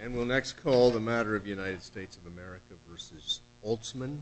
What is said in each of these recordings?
And we'll next call the matter of the United States of America v. Altsman.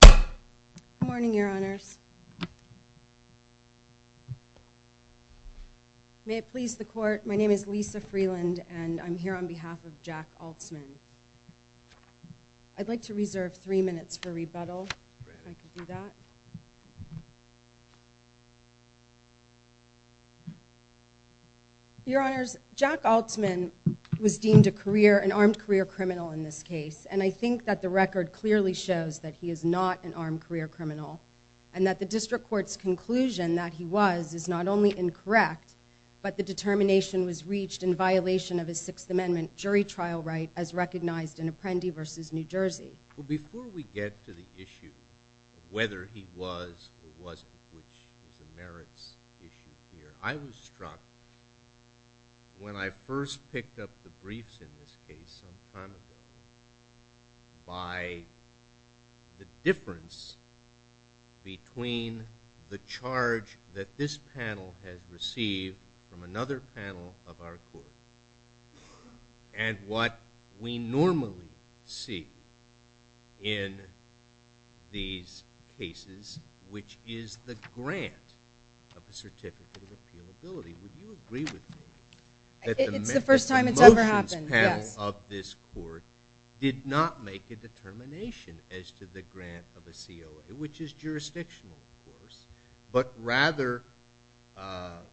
Good morning, your honors. May it please the court, my name is Lisa Freeland and I'm here on behalf of Jack Altsman. I'd like to reserve three minutes for rebuttal, if I could do that. Your honors, Jack Altsman was deemed a career, an armed career criminal in this case and I think that the record clearly shows that he is not an armed career criminal and that the district court's conclusion that he was is not only incorrect, but the determination was reached in violation of his Sixth Amendment jury trial right as recognized in Apprendi v. New Jersey. Well, before we get to the issue of whether he was or wasn't, which is a merits issue here, I was struck when I first picked up the briefs in this case some time ago by the difference between the charge that this panel has received from another panel of our court and what we normally see in these cases, which is the grant of a certificate of appealability. Would you agree with me? It's the first time it's ever happened, yes. The motions panel of this court did not make a determination as to the grant of a COA, which is jurisdictional of course, but rather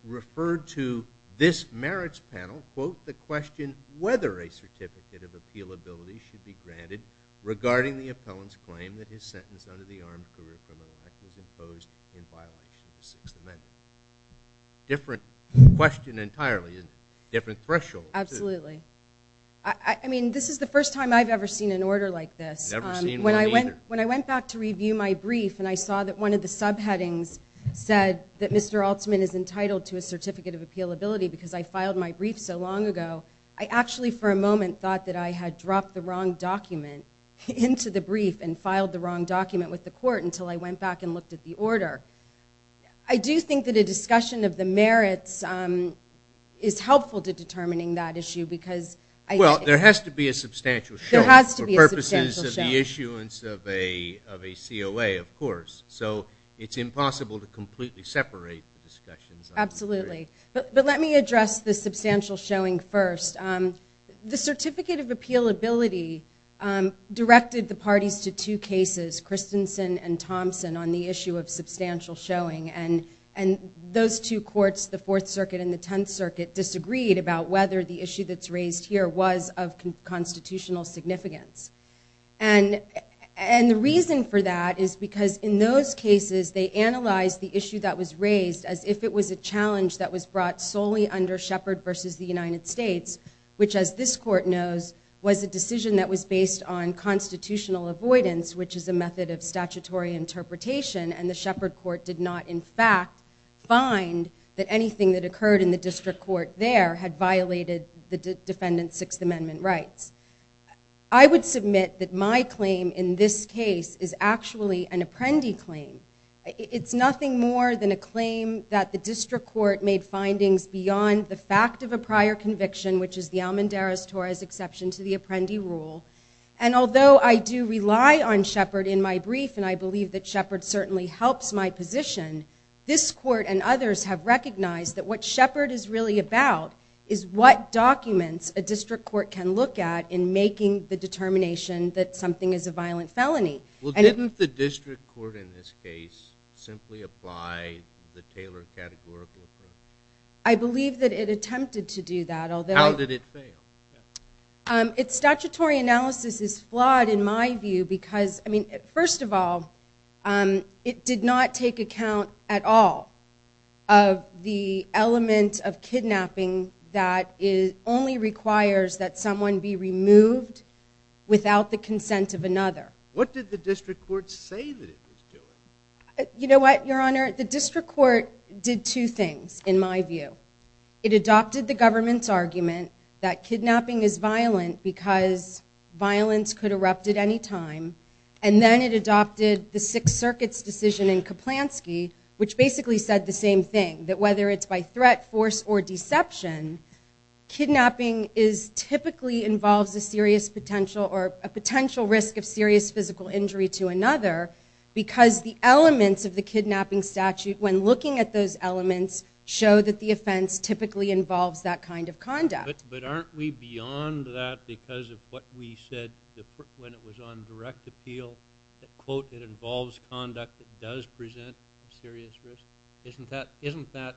referred to this merits panel, quote, the question whether a certificate of appealability should be granted regarding the appellant's claim that his sentence under the Armed Career Criminal Act was imposed in violation of the Sixth Amendment. Different question entirely, different threshold. Absolutely. I mean, this is the first time I've ever seen an order like this. I've never seen one either. When I went back to review my brief and I saw that one of the subheadings said that Mr. Altman is entitled to a certificate of appealability because I filed my brief so long ago, I actually for a moment thought that I had dropped the wrong document into the brief and filed the wrong document with the court until I went back and looked at the order. I do think that a discussion of the merits is helpful to determining that issue because I think... of a COA, of course, so it's impossible to completely separate the discussions. Absolutely. But let me address the substantial showing first. The certificate of appealability directed the parties to two cases, Christensen and Thompson, on the issue of substantial showing, and those two courts, the Fourth Circuit and the Tenth Circuit, disagreed about whether the issue that's raised here was of constitutional significance. And the reason for that is because in those cases they analyzed the issue that was raised as if it was a challenge that was brought solely under Shepard versus the United States, which, as this court knows, was a decision that was based on constitutional avoidance, which is a method of statutory interpretation, and the Shepard court did not, in fact, find that anything that occurred in the district court there had violated the defendant's Sixth Amendment rights. I would submit that my claim in this case is actually an apprendi claim. It's nothing more than a claim that the district court made findings beyond the fact of a prior conviction, which is the Almendarez-Torres exception to the apprendi rule. And although I do rely on Shepard in my brief, and I believe that Shepard certainly helps my position, this court and others have recognized that what Shepard is really about is what documents a district court can look at in making the determination that something is a violent felony. Well, didn't the district court in this case simply apply the Taylor categorical approach? I believe that it attempted to do that, although... How did it fail? Its statutory analysis is flawed in my view because, I mean, first of all, it did not take account at all of the element of kidnapping that only requires that someone be removed without the consent of another. What did the district court say that it was doing? You know what, Your Honor? The district court did two things, in my view. It adopted the government's argument that kidnapping is violent because violence could erupt at any time, and then it adopted the Sixth Circuit's decision in Kaplansky, which basically said the same thing, that whether it's by threat, force, or deception, kidnapping typically involves a potential risk of serious physical injury to another because the elements of the kidnapping statute, when looking at those elements, show that the offense typically involves that kind of conduct. But aren't we beyond that because of what we said when it was on direct appeal, that, quote, it involves conduct that does present a serious risk? Isn't that,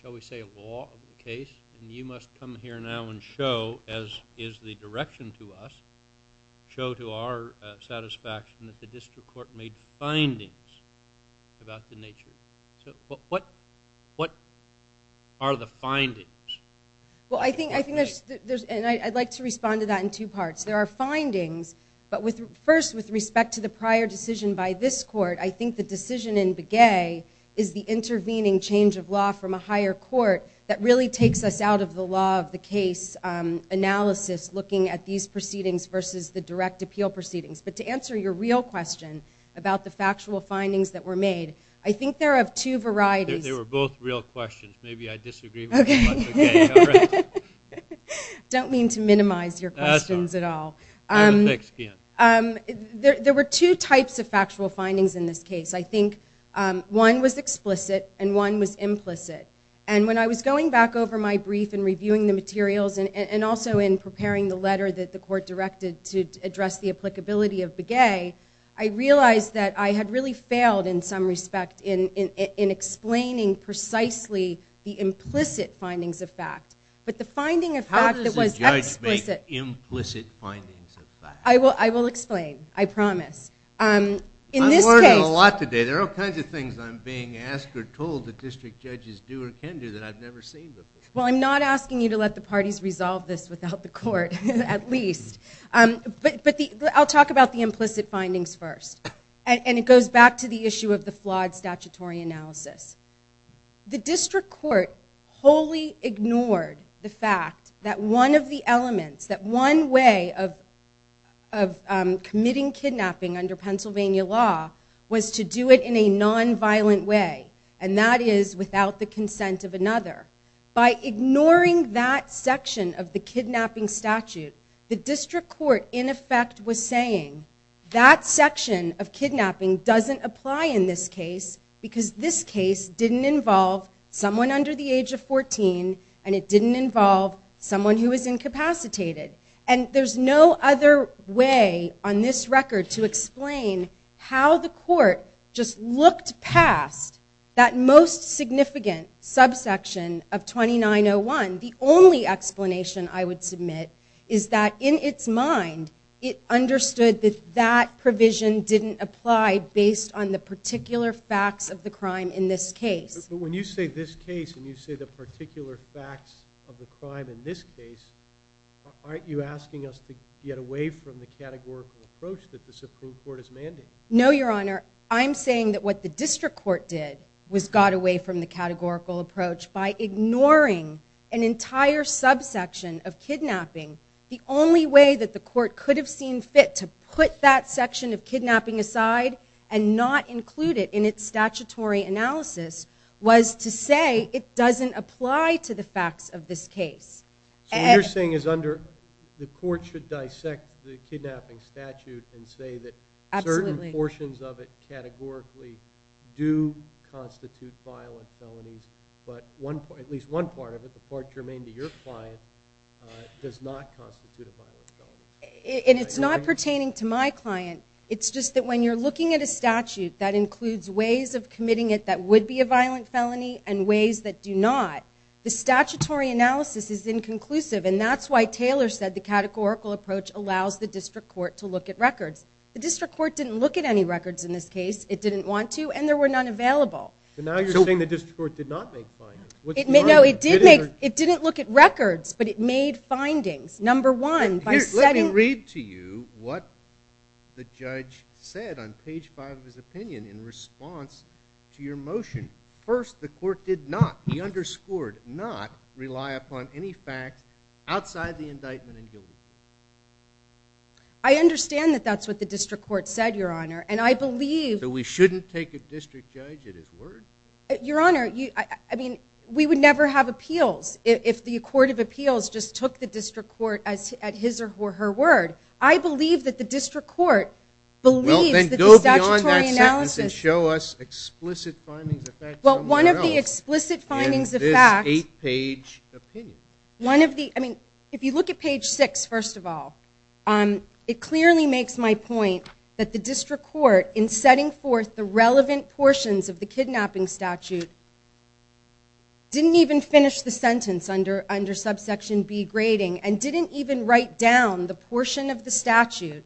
shall we say, law of the case? And you must come here now and show, as is the direction to us, show to our satisfaction that the district court made findings about the nature. So what are the findings? Well, I think there's—and I'd like to respond to that in two parts. There are findings, but first, with respect to the prior decision by this court, I think the decision in Begay is the intervening change of law from a higher court that really takes us out of the law of the case analysis, looking at these proceedings versus the direct appeal proceedings. But to answer your real question about the factual findings that were made, I think they're of two varieties. They were both real questions. Maybe I disagree with you about Begay. I don't mean to minimize your questions at all. There were two types of factual findings in this case. I think one was explicit and one was implicit. And when I was going back over my brief and reviewing the materials and also in preparing the letter that the court directed to address the applicability of Begay, I realized that I had really failed in some respect in explaining precisely the implicit findings of fact. But the finding of fact that was explicit— How does a judge make implicit findings of fact? I will explain. I promise. I'm learning a lot today. There are all kinds of things I'm being asked or told that district judges do or can do that I've never seen before. Well, I'm not asking you to let the parties resolve this without the court, at least. But I'll talk about the implicit findings first. And it goes back to the issue of the flawed statutory analysis. The district court wholly ignored the fact that one of the elements, that one way of committing kidnapping under Pennsylvania law was to do it in a nonviolent way, and that is without the consent of another. By ignoring that section of the kidnapping statute, the district court, in effect, was saying, that section of kidnapping doesn't apply in this case because this case didn't involve someone under the age of 14, and it didn't involve someone who was incapacitated. And there's no other way on this record to explain how the court just looked past that most significant subsection of 2901. The only explanation I would submit is that, in its mind, it understood that that provision didn't apply based on the particular facts of the crime in this case. But when you say this case and you say the particular facts of the crime in this case, aren't you asking us to get away from the categorical approach that the Supreme Court has mandated? No, Your Honor. I'm saying that what the district court did was got away from the categorical approach by ignoring an entire subsection of kidnapping. The only way that the court could have seen fit to put that section of kidnapping aside and not include it in its statutory analysis was to say it doesn't apply to the facts of this case. So what you're saying is the court should dissect the kidnapping statute and say that certain portions of it categorically do constitute violent felonies, but at least one part of it, the part germane to your client, does not constitute a violent felony. And it's not pertaining to my client. It's just that when you're looking at a statute that includes ways of committing it that would be a violent felony and ways that do not, the statutory analysis is inconclusive, and that's why Taylor said the categorical approach allows the district court to look at records. The district court didn't look at any records in this case. It didn't want to, and there were none available. So now you're saying the district court did not make findings. No, it didn't look at records, but it made findings. Number one, by setting... Let me read to you what the judge said on page 5 of his opinion in response to your motion. First, the court did not, he underscored, not rely upon any facts outside the indictment in guilty. I understand that that's what the district court said, Your Honor, and I believe... So we shouldn't take a district judge at his word? Your Honor, I mean, we would never have appeals if the court of appeals just took the district court at his or her word. I believe that the district court believes that the statutory analysis... Well, then go beyond that sentence and show us explicit findings of facts somewhere else in this 8-page opinion. One of the, I mean, if you look at page 6, first of all, it clearly makes my point that the district court, in setting forth the relevant portions of the kidnapping statute, didn't even finish the sentence under subsection B, grading, and didn't even write down the portion of the statute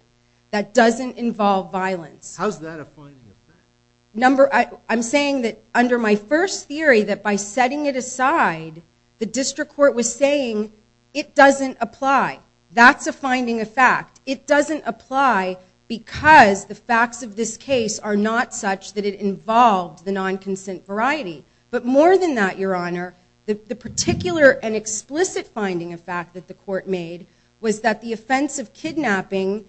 that doesn't involve violence. How's that a finding of facts? I'm saying that under my first theory, that by setting it aside, the district court was saying it doesn't apply. That's a finding of fact. It doesn't apply because the facts of this case are not such that it involved the non-consent variety. But more than that, Your Honor, the particular and explicit finding of fact that the court made was that the offense of kidnapping,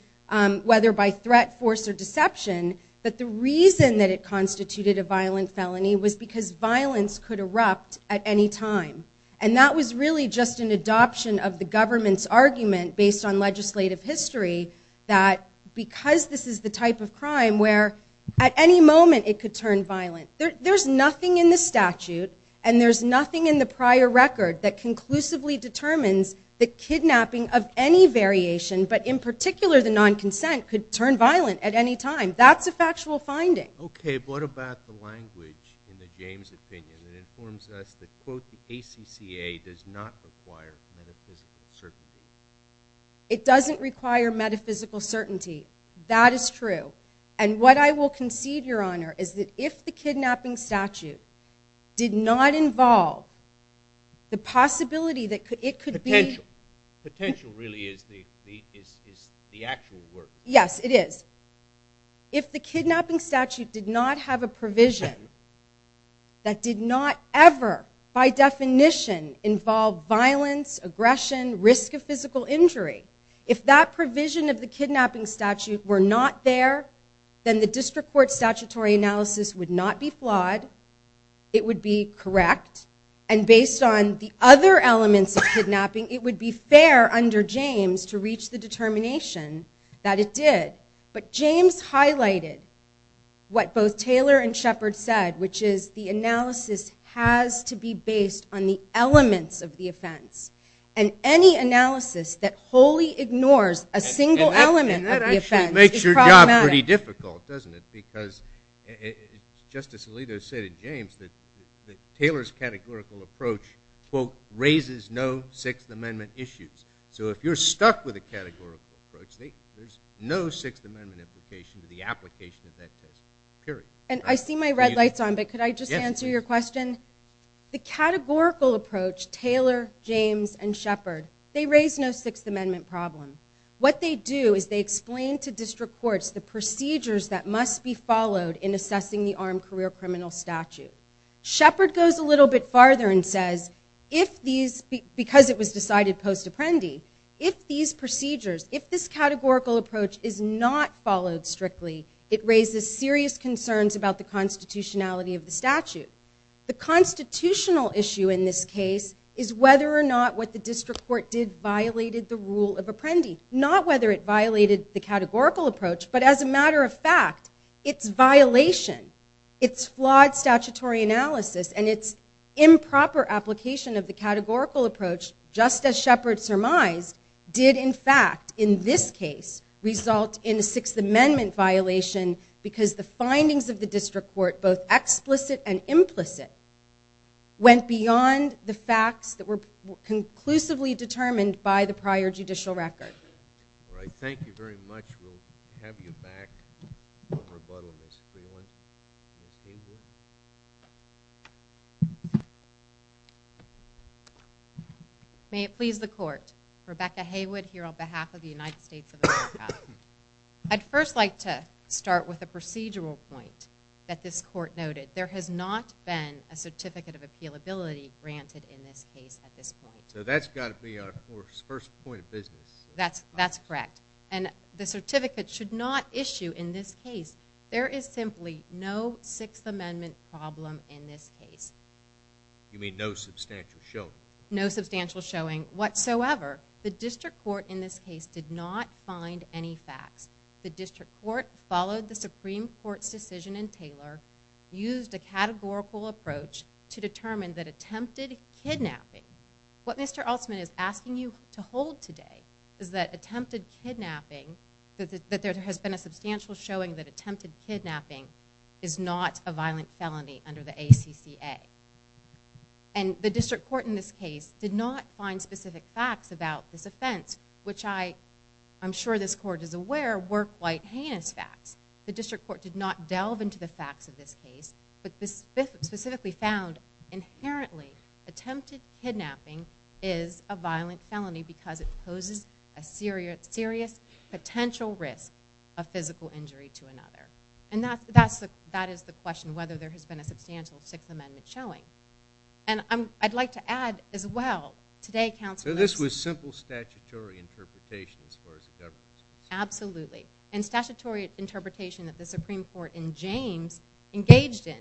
whether by threat, force, or deception, that the reason that it constituted a violent felony was because violence could erupt at any time. And that was really just an adoption of the government's argument, based on legislative history, that because this is the type of crime where at any moment it could turn violent. There's nothing in the statute, and there's nothing in the prior record, that conclusively determines that kidnapping of any variation, but in particular the non-consent, could turn violent at any time. That's a factual finding. Okay, but what about the language in the James opinion that informs us that, quote, the ACCA does not require metaphysical certainty? It doesn't require metaphysical certainty. That is true, and what I will concede, Your Honor, is that if the kidnapping statute did not involve the possibility that it could be... Potential. Potential really is the actual word. Yes, it is. If the kidnapping statute did not have a provision that did not ever, by definition, involve violence, aggression, risk of physical injury, if that provision of the kidnapping statute were not there, then the district court statutory analysis would not be flawed. It would be correct. And based on the other elements of kidnapping, it would be fair under James to reach the determination that it did. But James highlighted what both Taylor and Shepard said, which is the analysis has to be based on the elements of the offense, and any analysis that wholly ignores a single element of the offense is problematic. And that actually makes your job pretty difficult, doesn't it, because Justice Alito said in James that Taylor's categorical approach, quote, raises no Sixth Amendment issues. So if you're stuck with a categorical approach, there's no Sixth Amendment implication to the application of that test, period. And I see my red lights on, but could I just answer your question? The categorical approach, Taylor, James, and Shepard, they raise no Sixth Amendment problem. What they do is they explain to district courts the procedures that must be followed in assessing the armed career criminal statute. Shepard goes a little bit farther and says, because it was decided post-apprendi, if these procedures, if this categorical approach is not followed strictly, it raises serious concerns about the constitutionality of the statute. The constitutional issue in this case is whether or not what the district court did violated the rule of apprendi, not whether it violated the categorical approach, but as a matter of fact, it's violation. Its flawed statutory analysis and its improper application of the categorical approach, just as Shepard surmised, did, in fact, in this case, result in a Sixth Amendment violation because the findings of the district court, both explicit and implicit, went beyond the facts that were conclusively determined by the prior judicial record. All right, thank you very much. We'll have you back for rebuttal, Ms. Freeland. Ms. Haywood. May it please the court. Rebecca Haywood here on behalf of the United States of America. I'd first like to start with a procedural point that this court noted. There has not been a certificate of appealability granted in this case at this point. So that's got to be our first point of business. That's correct. And the certificate should not issue in this case. There is simply no Sixth Amendment problem in this case. You mean no substantial showing? No substantial showing whatsoever. The district court in this case did not find any facts. The district court followed the Supreme Court's decision in Taylor, used a categorical approach to determine that attempted kidnapping. What Mr. Altman is asking you to hold today is that attempted kidnapping, that there has been a substantial showing that attempted kidnapping is not a violent felony under the ACCA. And the district court in this case did not find specific facts about this offense, which I'm sure this court is aware were quite heinous facts. The district court did not delve into the facts of this case, but specifically found inherently attempted kidnapping is a violent felony because it poses a serious potential risk of physical injury to another. And that is the question, whether there has been a substantial Sixth Amendment showing. And I'd like to add as well today, Counselor Lewis. So this was simple statutory interpretation as far as the government's concerned? Absolutely. And statutory interpretation that the Supreme Court in James engaged in.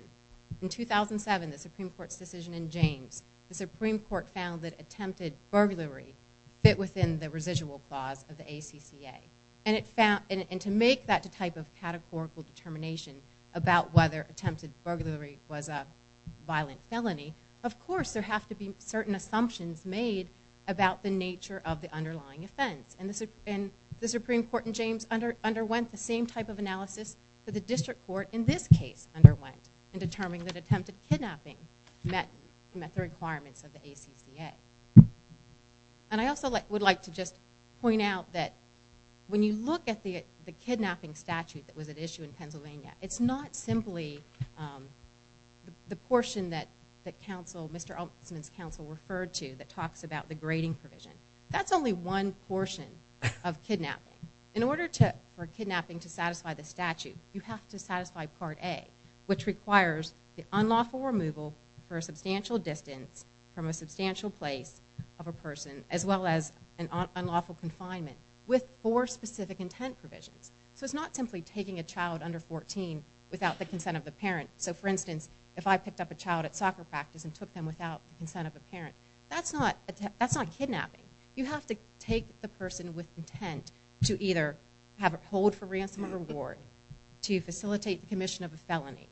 In 2007, the Supreme Court's decision in James, the Supreme Court found that attempted burglary fit within the residual clause of the ACCA. And to make that type of categorical determination about whether attempted burglary was a violent felony, of course there have to be certain assumptions made about the nature of the underlying offense. And the Supreme Court in James underwent the same type of analysis that the district court in this case underwent in determining that attempted kidnapping met the requirements of the ACCA. And I also would like to just point out that when you look at the kidnapping statute that was at issue in Pennsylvania, it's not simply the portion that Mr. Altman's counsel referred to that talks about the grading provision. That's only one portion of kidnapping. In order for kidnapping to satisfy the statute, you have to satisfy Part A, which requires the unlawful removal for a substantial distance from a substantial place of a person, as well as an unlawful confinement with four specific intent provisions. So it's not simply taking a child under 14 without the consent of the parent. So for instance, if I picked up a child at soccer practice and took them without the consent of a parent, that's not kidnapping. You have to take the person with intent to either hold for ransom or reward, to facilitate the commission of a felony,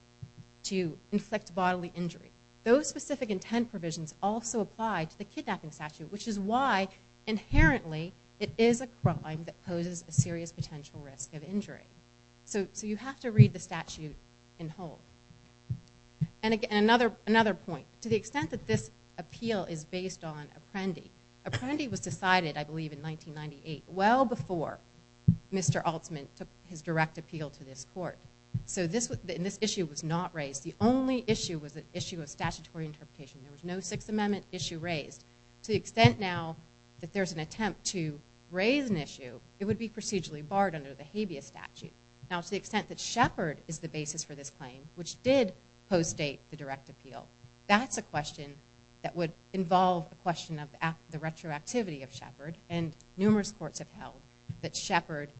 to inflict bodily injury. Those specific intent provisions also apply to the kidnapping statute, which is why inherently it is a crime that poses a serious potential risk of injury. So you have to read the statute in whole. And again, another point. To the extent that this appeal is based on Apprendi. Apprendi was decided, I believe, in 1998, well before Mr. Altman took his direct appeal to this court. So this issue was not raised. The only issue was the issue of statutory interpretation. There was no Sixth Amendment issue raised. To the extent now that there's an attempt to raise an issue, it would be procedurally barred under the habeas statute. Now to the extent that Shepard is the basis for this claim, which did post-date the direct appeal, that's a question that would involve a question of the retroactivity of Shepard. And numerous courts have held that Shepard,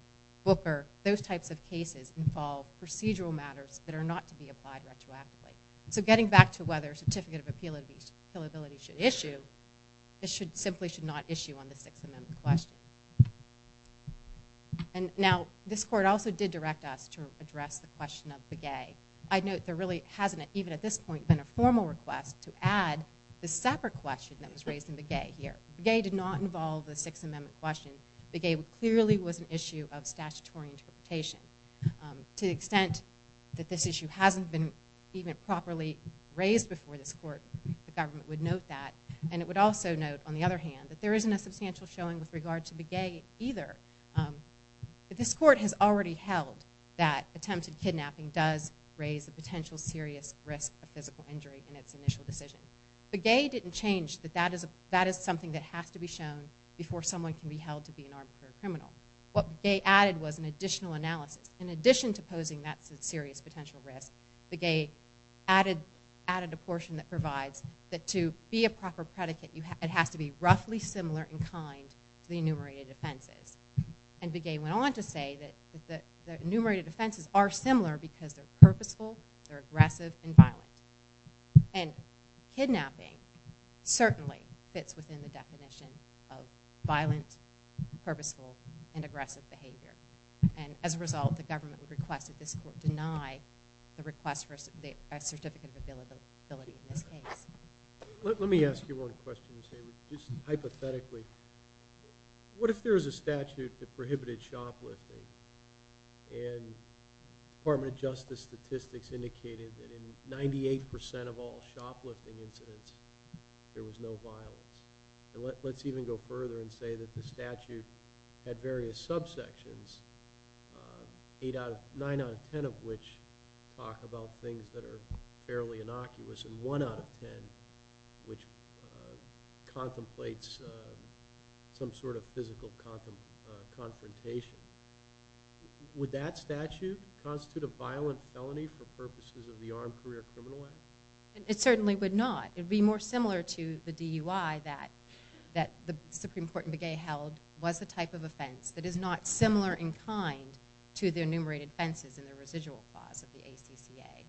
Booker, those types of cases involve procedural matters that are not to be applied retroactively. So getting back to whether a certificate of appealability should issue, it simply should not issue on the Sixth Amendment question. Now this court also did direct us to address the question of the gay. I note there really hasn't, even at this point, been a formal request to add the separate question that was raised in the gay here. The gay did not involve the Sixth Amendment question. The gay clearly was an issue of statutory interpretation. To the extent that this issue hasn't been even properly raised before this court, the government would note that. And it would also note, on the other hand, that there isn't a substantial showing with regard to the gay either. This court has already held that attempted kidnapping does raise a potential serious risk of physical injury in its initial decision. The gay didn't change that that is something that has to be shown before someone can be held to be an arbitrary criminal. What the gay added was an additional analysis. In addition to posing that serious potential risk, the gay added a portion that provides that to be a proper predicate, that it has to be roughly similar in kind to the enumerated offenses. And the gay went on to say that the enumerated offenses are similar because they're purposeful, they're aggressive, and violent. And kidnapping certainly fits within the definition of violent, purposeful, and aggressive behavior. And as a result, the government would request that this court deny the request for a certificate of ability in this case. Let me ask you one question, just hypothetically. What if there is a statute that prohibited shoplifting and Department of Justice statistics indicated that in 98% of all shoplifting incidents, there was no violence? Let's even go further and say that the statute had various subsections, nine out of ten of which talk about things that are fairly innocuous, and one out of ten which contemplates some sort of physical confrontation. Would that statute constitute a violent felony for purposes of the Armed Career Criminal Act? It certainly would not. It would be more similar to the DUI that the Supreme Court in the gay held was the type of offense that is not similar in kind to the enumerated offenses in the residual clause of the ACCA.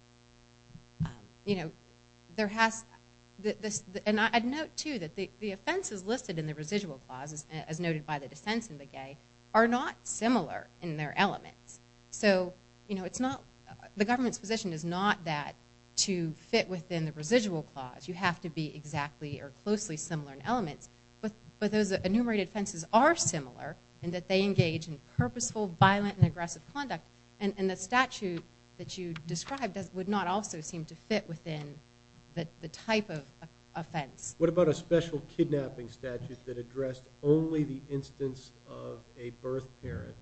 And I'd note, too, that the offenses listed in the residual clause, as noted by the dissents in the gay, are not similar in their elements. So the government's position is not that to fit within the residual clause. You have to be exactly or closely similar in elements. But those enumerated offenses are similar in that they engage in purposeful, violent, and aggressive conduct. And the statute that you described would not also seem to fit within the type of offense. What about a special kidnapping statute that addressed only the instance of a birth parent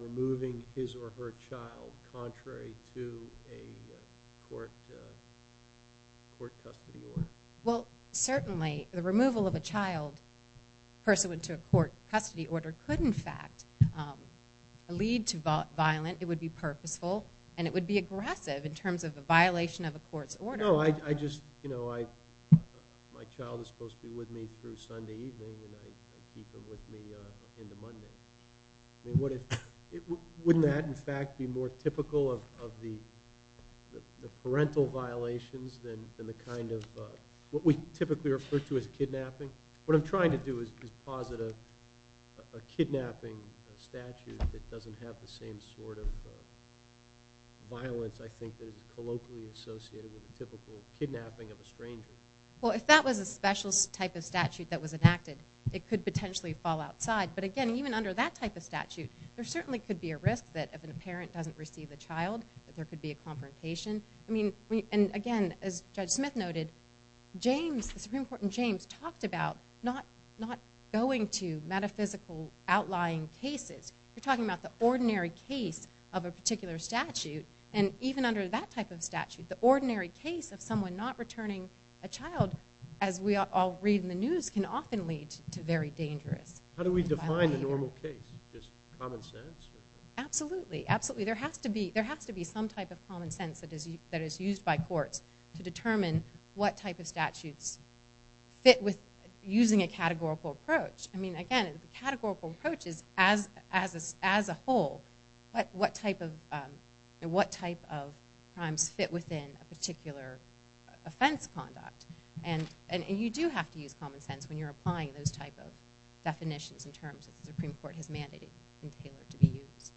removing his or her child contrary to a court custody order? Well, certainly the removal of a child pursuant to a court custody order could, in fact, lead to violence. It would be purposeful, and it would be aggressive in terms of a violation of a court's order. No, I just, you know, my child is supposed to be with me through Sunday evening, and I keep him with me into Monday. I mean, wouldn't that, in fact, be more typical of the parental violations than the kind of what we typically refer to as kidnapping? What I'm trying to do is posit a kidnapping statute that doesn't have the same sort of violence, I think, that is colloquially associated with a typical kidnapping of a stranger. Well, if that was a special type of statute that was enacted, it could potentially fall outside. But, again, even under that type of statute, there certainly could be a risk that if a parent doesn't receive the child that there could be a confrontation. I mean, and again, as Judge Smith noted, James, the Supreme Court in James, talked about not going to metaphysical outlying cases. You're talking about the ordinary case of a particular statute, and even under that type of statute, the ordinary case of someone not returning a child, as we all read in the news, can often lead to very dangerous violations. How do we define a normal case? Just common sense? Absolutely, absolutely. There has to be some type of common sense that is used by courts to determine what type of statutes fit with using a categorical approach. I mean, again, the categorical approach is, as a whole, what type of crimes fit within a particular offense conduct. And you do have to use common sense when you're applying those type of definitions and terms that the Supreme Court has mandated to be used.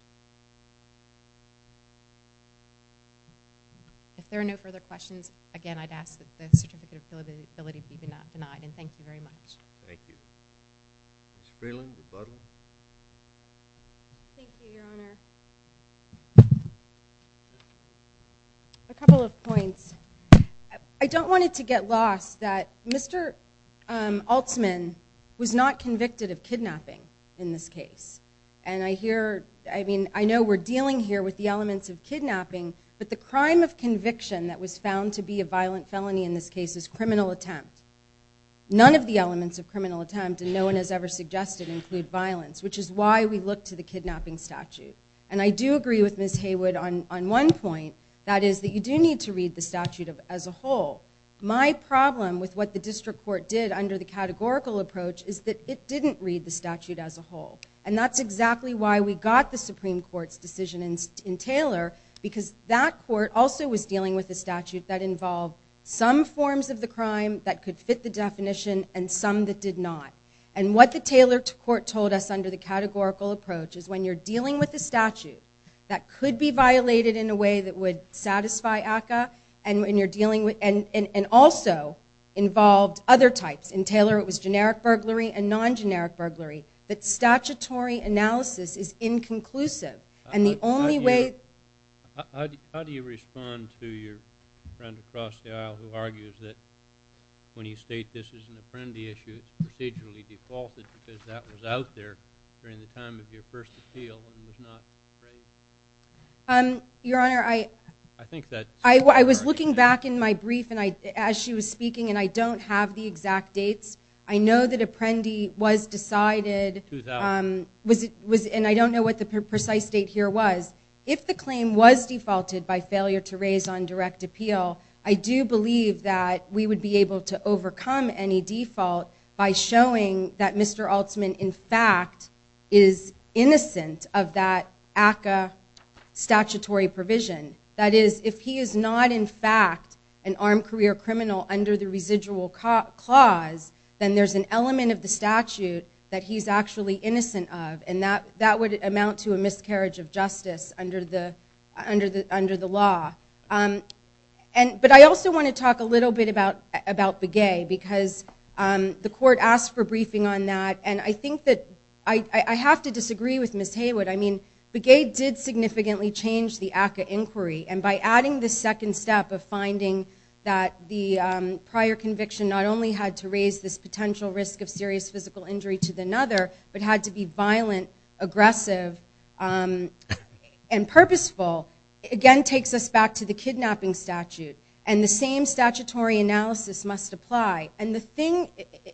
If there are no further questions, again, I'd ask that the certificate of ability be denied, and thank you very much. Thank you. Ms. Freeland, rebuttal? Thank you, Your Honor. A couple of points. I don't want it to get lost that Mr. Altsman was not convicted of kidnapping in this case. And I hear, I mean, I know we're dealing here with the elements of kidnapping, but the crime of conviction that was found to be a violent felony in this case is criminal attempt. None of the elements of criminal attempt, and no one has ever suggested, include violence, which is why we look to the kidnapping statute. And I do agree with Ms. Haywood on one point, that is that you do need to read the statute as a whole. My problem with what the district court did under the categorical approach is that it didn't read the statute as a whole. And that's exactly why we got the Supreme Court's decision in Taylor, because that court also was dealing with a statute that involved some forms of the crime that could fit the definition and some that did not. And what the Taylor court told us under the categorical approach is when you're dealing with a statute that could be violated in a way that would satisfy ACCA, and also involved other types. In Taylor it was generic burglary and non-generic burglary. But statutory analysis is inconclusive. And the only way... How do you respond to your friend across the aisle who argues that when you state this is an Apprendi issue, it's procedurally defaulted because that was out there during the time of your first appeal and was not raised? Your Honor, I... I think that... I was looking back in my brief as she was speaking, and I don't have the exact dates. I know that Apprendi was decided... 2000. And I don't know what the precise date here was. If the claim was defaulted by failure to raise on direct appeal, I do believe that we would be able to overcome any default by showing that Mr. Altman, in fact, is innocent of that ACCA statutory provision. That is, if he is not, in fact, an armed career criminal under the residual clause, then there's an element of the statute that he's actually innocent of, and that would amount to a miscarriage of justice under the law. But I also want to talk a little bit about Begay, because the court asked for a briefing on that, and I think that... I have to disagree with Ms. Haywood. I mean, Begay did significantly change the ACCA inquiry, and by adding the second step of finding that the prior conviction not only had to raise this potential risk of serious physical injury to another, but had to be violent, aggressive, and purposeful, again takes us back to the kidnapping statute, and the same statutory analysis must apply. And the thing...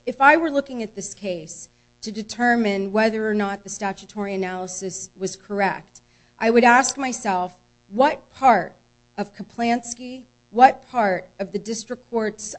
If I were looking at this case to determine whether or not the statutory analysis was correct, I would ask myself, what part of Kaplansky, what part of the district court's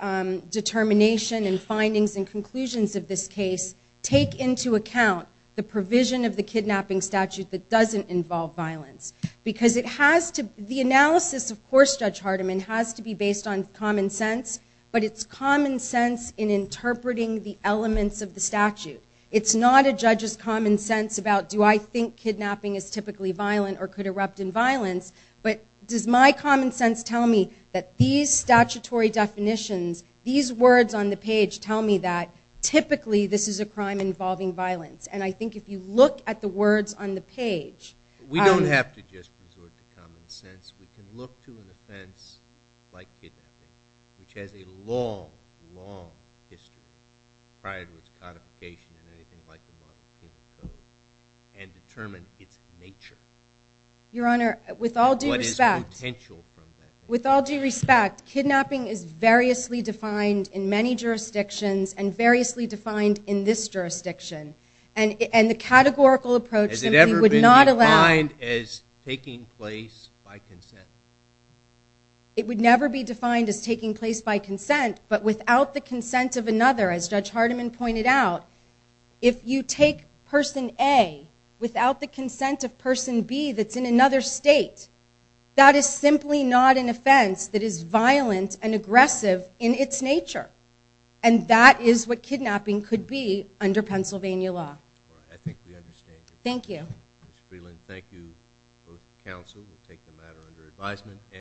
determination and findings and conclusions of this case take into account the provision of the kidnapping statute that doesn't involve violence? Because it has to... The analysis, of course, Judge Hardiman, has to be based on common sense, but it's common sense in interpreting the elements of the statute. It's not a judge's common sense about do I think kidnapping is typically violent or could erupt in violence, but does my common sense tell me that these statutory definitions, these words on the page, tell me that typically this is a crime involving violence? And I think if you look at the words on the page... We don't have to just resort to common sense. We can look to an offense like kidnapping, which has a long, long history prior to its codification in anything like the Washington Code, and determine its nature. Your Honor, with all due respect... What is the potential from that? With all due respect, kidnapping is variously defined in many jurisdictions and variously defined in this jurisdiction, and the categorical approach simply would not allow... Has it ever been defined as taking place by consent? It would never be defined as taking place by consent, but without the consent of another, as Judge Hardiman pointed out, if you take person A without the consent of person B that's in another state, that is simply not an offense that is violent and aggressive in its nature. And that is what kidnapping could be under Pennsylvania law. I think we understand. Thank you. Ms. Freeland, thank you both to counsel. We'll take the matter under advisement.